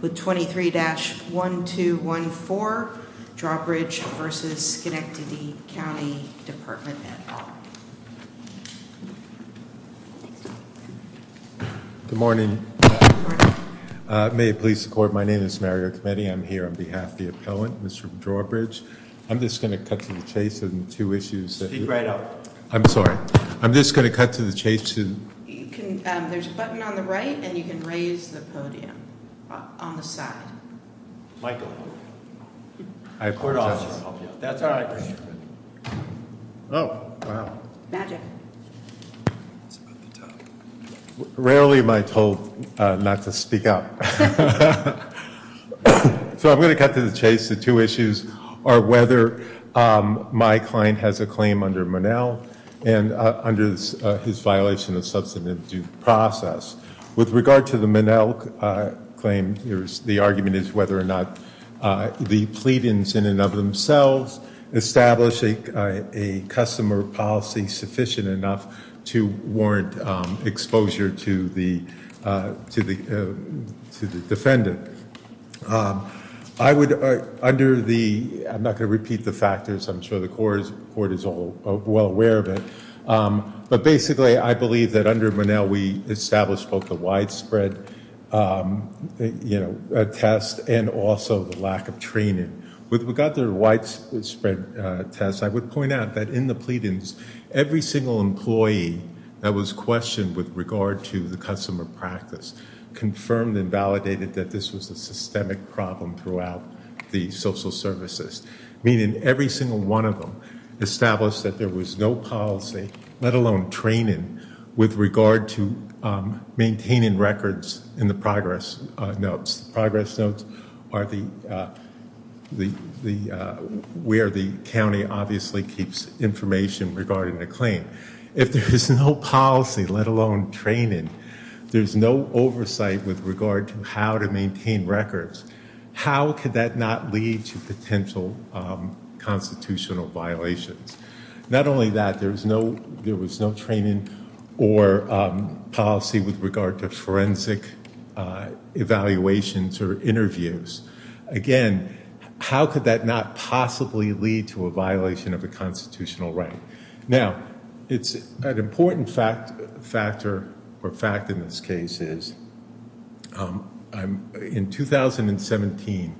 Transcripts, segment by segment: with 23-1214 Drawbridge v. Schenectady County Department at Law. Good morning. May it please the court. My name is Mario Cometti. I'm here on behalf of the appellant, Mr. Drawbridge. I'm just going to cut to the chase on two issues. Speak right up. I'm sorry. I'm just going to cut to the chase. There's a button on the right and you can raise the podium on the side. Michael. I have court office. That's all right. Oh, wow. Magic. Rarely am I told not to speak up. So I'm going to cut to the chase. The two issues are whether my client has a claim under Monell and under his violation of substantive due process. With regard to the Monell claim, the argument is whether or not the pleadings in and of themselves establish a customer policy sufficient enough to warrant exposure to the defendant. I would under the I'm not going to repeat the factors. I'm sure the court is well aware of it. But basically, I believe that under Monell, we established both the widespread test and also the lack of training. With regard to the widespread test, I would point out that in the pleadings, every single employee that was questioned with regard to the customer practice confirmed and validated that this was a systemic problem throughout the social services, meaning every single one of them established that there was no policy, let alone training, with regard to maintaining records in the progress notes. Progress notes are the the the where the county obviously keeps information regarding the claim. If there is no policy, let alone training, there's no oversight with regard to how to maintain records. How could that not lead to potential constitutional violations? Not only that, there was no there was no training or policy with regard to forensic evaluations or interviews. Again, how could that not possibly lead to a violation of a constitutional right? Now, it's an important fact factor or fact in this case is in 2017,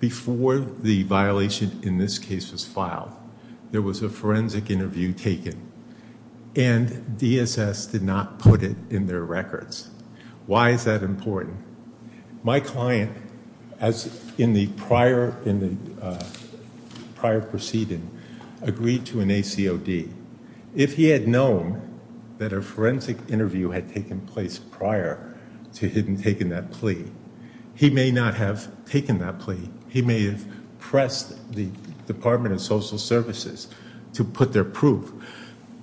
before the violation in this case was filed, there was a forensic interview taken and DSS did not put it in their records. Why is that important? My client, as in the prior proceeding, agreed to an ACOD. If he had known that a forensic interview had taken place prior to him taking that plea, he may not have taken that plea. He may have pressed the Department of Social Services to put their proof.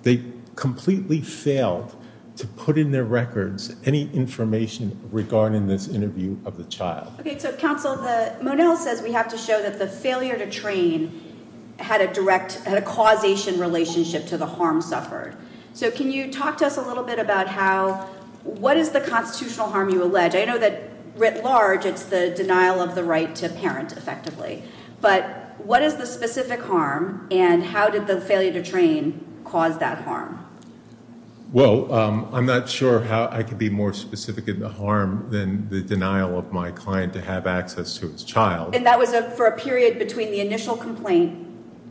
They completely failed to put in their records any information regarding this interview of the child. OK, so counsel, the Monell says we have to show that the failure to train had a direct causation relationship to the harm suffered. So can you talk to us a little bit about how what is the constitutional harm you allege? I know that writ large, it's the denial of the right to parent effectively. But what is the specific harm and how did the failure to train cause that harm? Well, I'm not sure how I could be more specific in the harm than the denial of my client to have access to his child. And that was for a period between the initial complaint,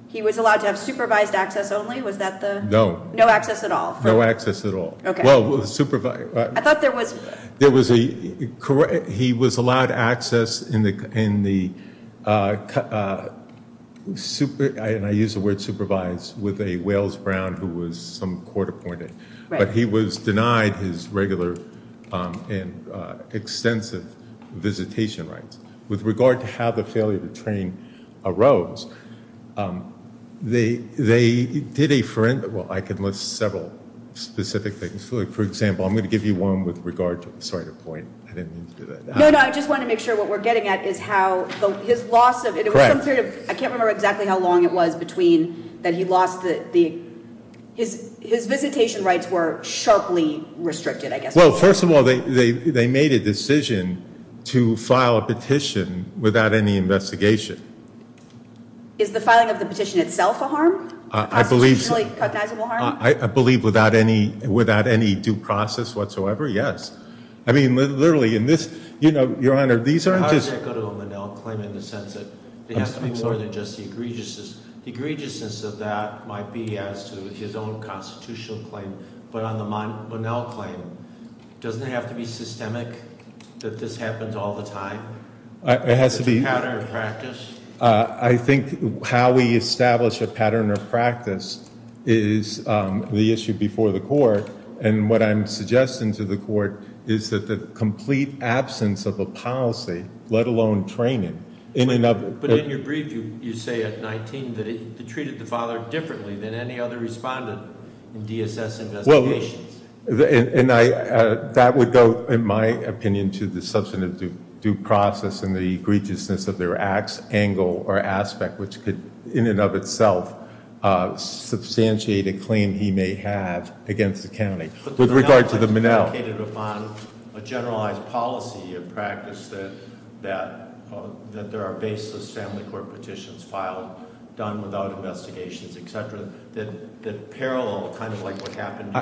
he was allowed to have supervised access only? Was that the? No. No access at all? No access at all. OK. Well, supervised. I thought there was. There was a, he was allowed access in the, and I use the word supervised with a Wales Brown who was some court appointed. But he was denied his regular and extensive visitation rights. With regard to how the failure to train arose, they did a, well, I can list several specific things. For example, I'm going to give you one with regard to, sorry to point, I didn't mean to do that. No, no, I just wanted to make sure what we're getting at is how his loss of, it was some period of, I can't remember exactly how long it was between that he lost the, his visitation rights were sharply restricted, I guess. Well, first of all, they made a decision to file a petition without any investigation. Is the filing of the petition itself a harm? I believe. Constitutionally cognizable harm? I believe without any due process whatsoever, yes. I mean, literally in this, you know, Your Honor, these aren't just. How does that go to a Monell claim in the sense that it has to be more than just the egregiousness? Might be as to his own constitutional claim, but on the Monell claim, doesn't it have to be systemic that this happens all the time? It has to be. Pattern of practice? I think how we establish a pattern of practice is the issue before the court, and what I'm suggesting to the court is that the complete absence of a policy, let alone training. But in your brief, you say at 19 that it treated the father differently than any other respondent in DSS investigations. Well, and I, that would go, in my opinion, to the substantive due process and the egregiousness of their acts, angle, or aspect, which could in and of itself substantiate a claim he may have against the county. With regard to the Monell. It's indicated upon a generalized policy of practice that there are baseless family court petitions filed, done without investigations, etc., that parallel kind of like what happened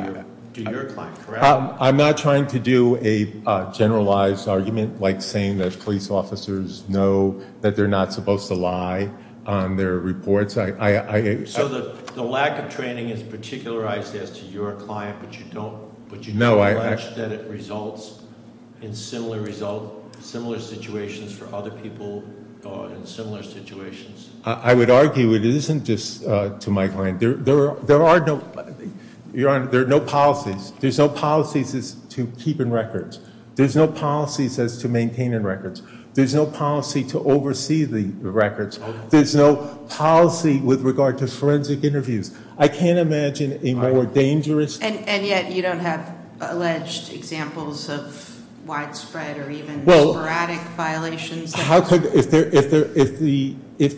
to your client, correct? I'm not trying to do a generalized argument like saying that police officers know that they're not supposed to lie on their reports. So the lack of training is particularized as to your client, but you don't- No, I- That it results in similar situations for other people in similar situations. I would argue it isn't just to my client. There are no policies. There's no policies as to keeping records. There's no policies as to maintaining records. There's no policy to oversee the records. There's no policy with regard to forensic interviews. I can't imagine a more dangerous- And yet you don't have alleged examples of widespread or even sporadic violations. How could- if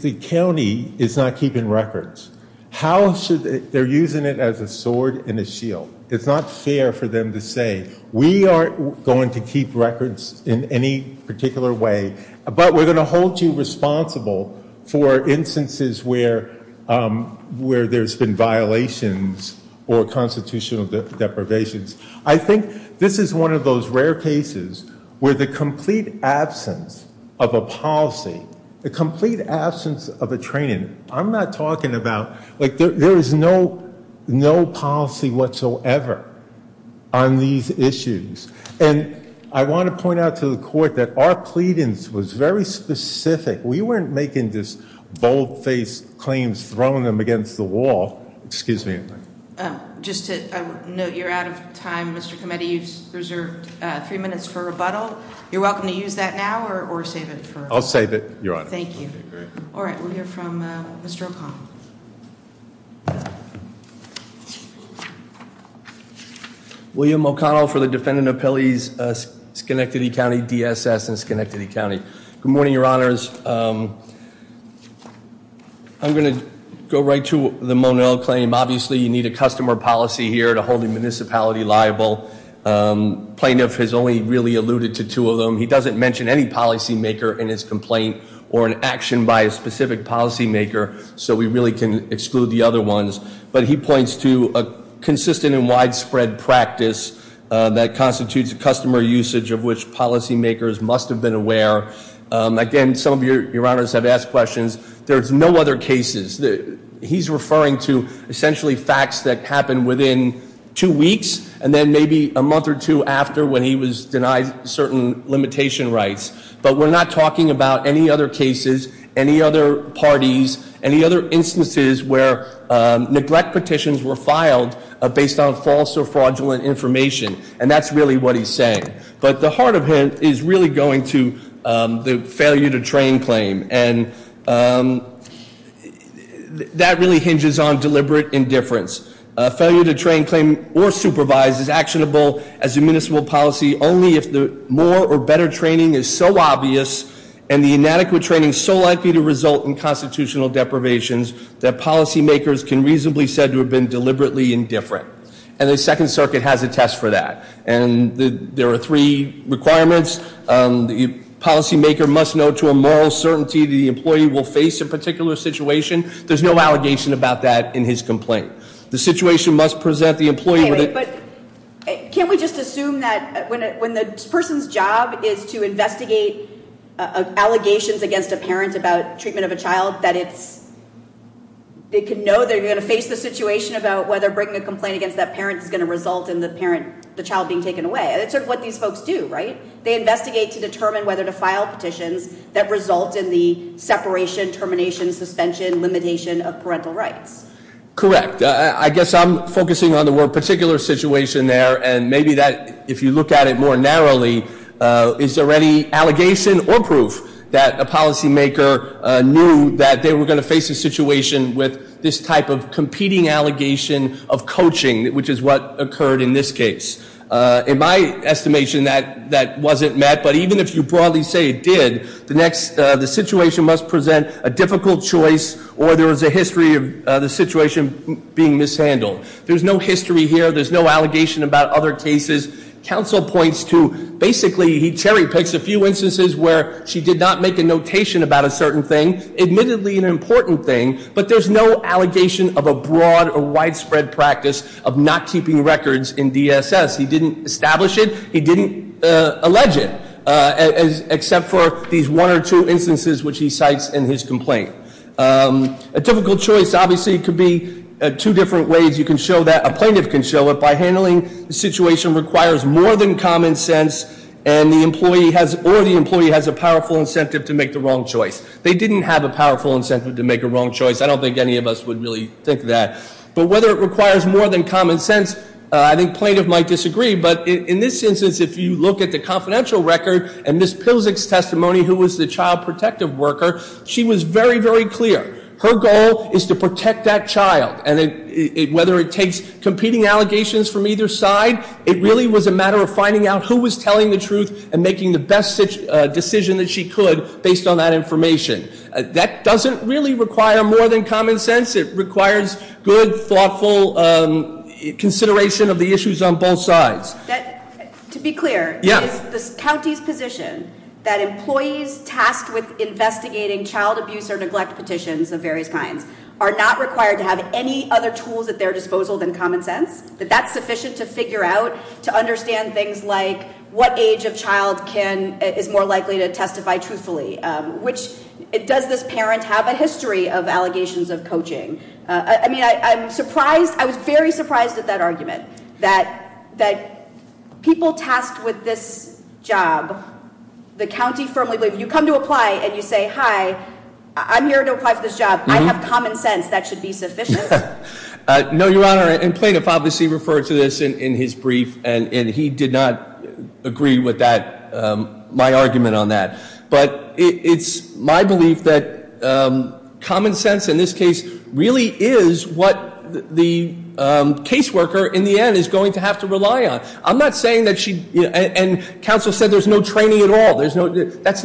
the county is not keeping records, how should- they're using it as a sword and a shield. It's not fair for them to say, we aren't going to keep records in any particular way, but we're going to hold you responsible for instances where there's been violations or constitutional deprivations. I think this is one of those rare cases where the complete absence of a policy, the complete absence of a training, I'm not talking about- there is no policy whatsoever on these issues. And I want to point out to the court that our pleadings was very specific. We weren't making just bold-faced claims, throwing them against the wall. Excuse me. Just to note, you're out of time, Mr. Kometi. You've reserved three minutes for rebuttal. You're welcome to use that now or save it for- I'll save it, Your Honor. Thank you. All right, we'll hear from Mr. O'Connell. William O'Connell for the Defendant Appellees, Schenectady County, DSS, and Schenectady County. Good morning, Your Honors. I'm going to go right to the Monell claim. Obviously, you need a customer policy here to hold a municipality liable. Plaintiff has only really alluded to two of them. He doesn't mention any policymaker in his complaint or an action by a specific policymaker. So we really can exclude the other ones. But he points to a consistent and widespread practice that constitutes a customer usage of which policymakers must have been aware. Again, some of Your Honors have asked questions. There's no other cases. He's referring to essentially facts that happened within two weeks and then maybe a month or two after when he was denied certain limitation rights. But we're not talking about any other cases, any other parties, any other instances where neglect petitions were filed based on false or fraudulent information. And that's really what he's saying. But the heart of him is really going to the failure to train claim. And that really hinges on deliberate indifference. Failure to train, claim, or supervise is actionable as a municipal policy only if the more or better training is so obvious and the inadequate training is so likely to result in constitutional deprivations that policymakers can reasonably said to have been deliberately indifferent. And the Second Circuit has a test for that. And there are three requirements. The policymaker must know to a moral certainty the employee will face a particular situation. There's no allegation about that in his complaint. The situation must present the employee with a- Can we just assume that when the person's job is to investigate allegations against a parent about treatment of a child, that they can know they're going to face the situation about whether bringing a complaint against that parent is going to result in the child being taken away. That's sort of what these folks do, right? They investigate to determine whether to file petitions that result in the separation, termination, suspension, limitation of parental rights. Correct. I guess I'm focusing on the word particular situation there. And maybe that, if you look at it more narrowly, is there any allegation or proof that a policymaker knew that they were going to face a situation with this type of competing allegation of coaching, which is what occurred in this case. In my estimation, that wasn't met. But even if you broadly say it did, the situation must present a difficult choice or there is a history of the situation being mishandled. There's no history here. There's no allegation about other cases. Counsel points to, basically, he cherry picks a few instances where she did not make a notation about a certain thing, admittedly an important thing, but there's no allegation of a broad or He didn't establish it. He didn't allege it, except for these one or two instances which he cites in his complaint. A difficult choice, obviously, could be two different ways you can show that. A plaintiff can show it by handling the situation requires more than common sense, or the employee has a powerful incentive to make the wrong choice. They didn't have a powerful incentive to make a wrong choice. I don't think any of us would really think that. But whether it requires more than common sense, I think plaintiff might disagree. But in this instance, if you look at the confidential record and Ms. Pilsak's testimony, who was the child protective worker, she was very, very clear. Her goal is to protect that child. And whether it takes competing allegations from either side, it really was a matter of finding out who was telling the truth and making the best decision that she could based on that information. That doesn't really require more than common sense. It requires good, thoughtful consideration of the issues on both sides. To be clear- Yes. The county's position that employees tasked with investigating child abuse or neglect petitions of various kinds are not required to have any other tools at their disposal than common sense. That that's sufficient to figure out, to understand things like what age of child is more likely to testify truthfully. Does this parent have a history of allegations of coaching? I mean, I'm surprised. I was very surprised at that argument. That people tasked with this job, the county firmly believes. You come to apply and you say, hi, I'm here to apply for this job. I have common sense. That should be sufficient. No, Your Honor. And plaintiff obviously referred to this in his brief. And he did not agree with that, my argument on that. But it's my belief that common sense in this case really is what the caseworker in the end is going to have to rely on. I'm not saying that she- and counsel said there's no training at all. That's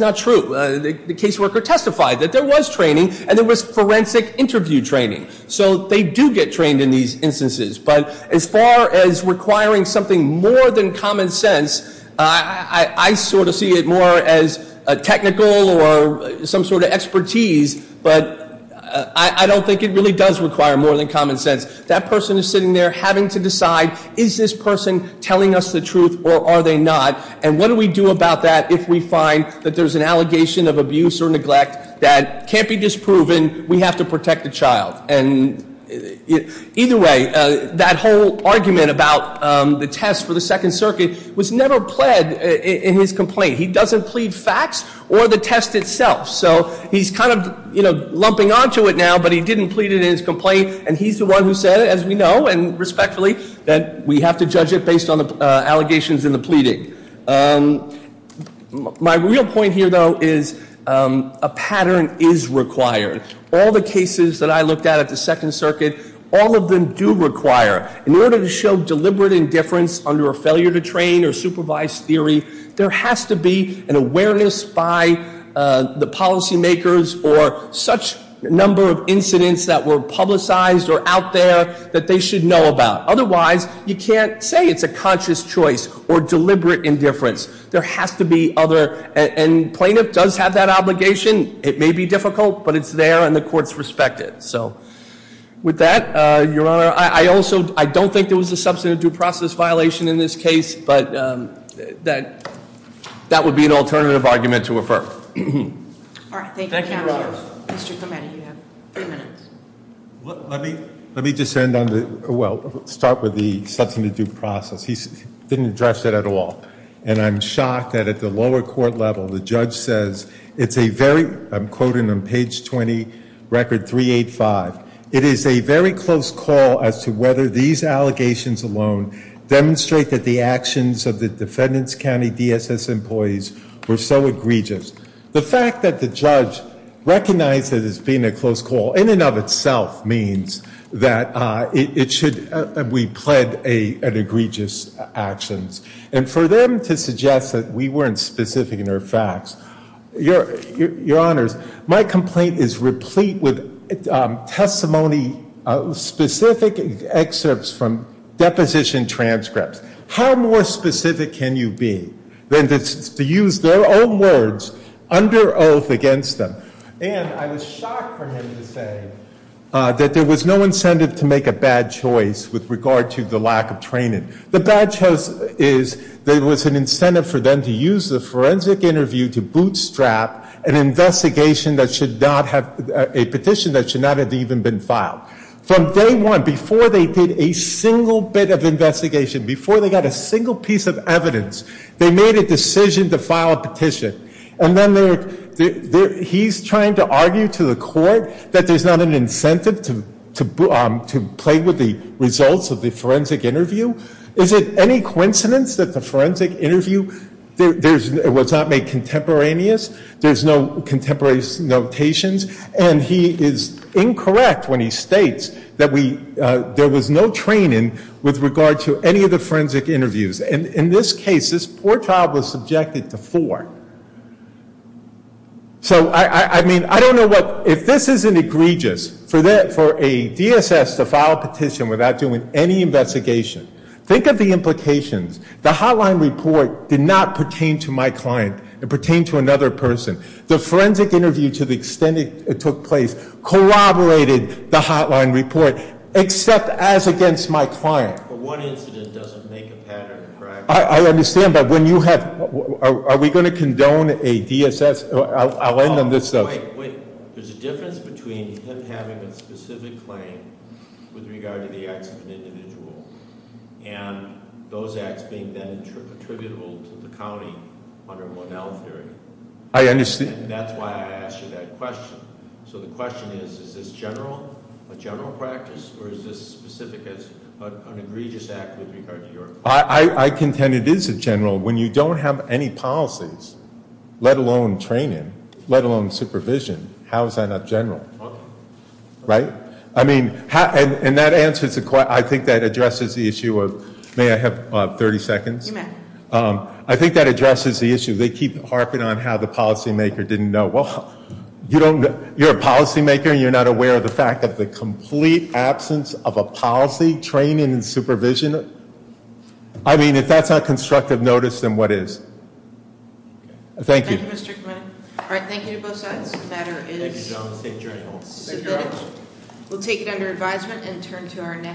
not true. The caseworker testified that there was training and there was forensic interview training. So they do get trained in these instances. But as far as requiring something more than common sense, I sort of see it more as a technical or some sort of expertise. But I don't think it really does require more than common sense. That person is sitting there having to decide, is this person telling us the truth or are they not? And what do we do about that if we find that there's an allegation of abuse or neglect that can't be disproven? We have to protect the child. And either way, that whole argument about the test for the Second Circuit was never pled in his complaint. He doesn't plead facts or the test itself. So he's kind of lumping onto it now, but he didn't plead it in his complaint. And he's the one who said, as we know and respectfully, that we have to judge it based on the allegations in the pleading. My real point here, though, is a pattern is required. All the cases that I looked at at the Second Circuit, all of them do require, in order to show deliberate indifference under a failure to train or supervise theory, there has to be an awareness by the policy makers or such number of incidents that were publicized or out there that they should know about. Otherwise, you can't say it's a conscious choice or deliberate indifference. There has to be other, and plaintiff does have that obligation. It may be difficult, but it's there and the courts respect it. So with that, Your Honor, I don't think there was a substantive due process violation in this case, but that would be an alternative argument to refer. All right. Thank you, Your Honor. Mr. Clemente, you have three minutes. Let me just end on the, well, start with the substantive due process. He didn't address it at all. And I'm shocked that at the lower court level, the judge says it's a very, I'm quoting on page 20, record 385, it is a very close call as to whether these allegations alone demonstrate that the actions of the defendants' county DSS employees were so egregious. The fact that the judge recognized it as being a close call in and of itself means that it should, we pled an egregious actions. And for them to suggest that we weren't specific in our facts, Your Honors, my complaint is replete with testimony, specific excerpts from deposition transcripts. How more specific can you be than to use their own words under oath against them? And I was shocked for him to say that there was no incentive to make a bad choice with regard to the lack of training. The bad choice is there was an incentive for them to use the forensic interview to bootstrap an investigation that should not have, a petition that should not have even been filed. From day one, before they did a single bit of investigation, before they got a single piece of evidence, they made a decision to file a petition. And then they're, he's trying to argue to the court that there's not an incentive to play with the results of the forensic interview. Is it any coincidence that the forensic interview was not made contemporaneous? There's no contemporaneous notations. And he is incorrect when he states that we, there was no training with regard to any of the forensic interviews. And in this case, this poor child was subjected to four. So, I mean, I don't know what, if this isn't egregious for a DSS to file a petition without doing any investigation. Think of the implications. The hotline report did not pertain to my client. It pertained to another person. The forensic interview, to the extent it took place, corroborated the hotline report, except as against my client. But one incident doesn't make a pattern, correct? I understand, but when you have, are we going to condone a DSS? I'll end on this stuff. Wait, wait. There's a difference between him having a specific claim with regard to the acts of an individual and those acts being then attributable to the county under Monell theory. I understand. And that's why I asked you that question. So the question is, is this general, a general practice, or is this specific as an egregious act with regard to your client? I contend it is a general when you don't have any policies, let alone training, let alone supervision. How is that not general? Right? I mean, and that answers, I think that addresses the issue of, may I have 30 seconds? You may. I think that addresses the issue. They keep harping on how the policymaker didn't know. Well, you don't, you're a policymaker and you're not aware of the fact that the complete absence of a policy, training, and supervision, I mean, if that's not constructive notice, then what is? Thank you. All right, thank you to both sides. The matter is submitted. We'll take it under advisement and turn to our next.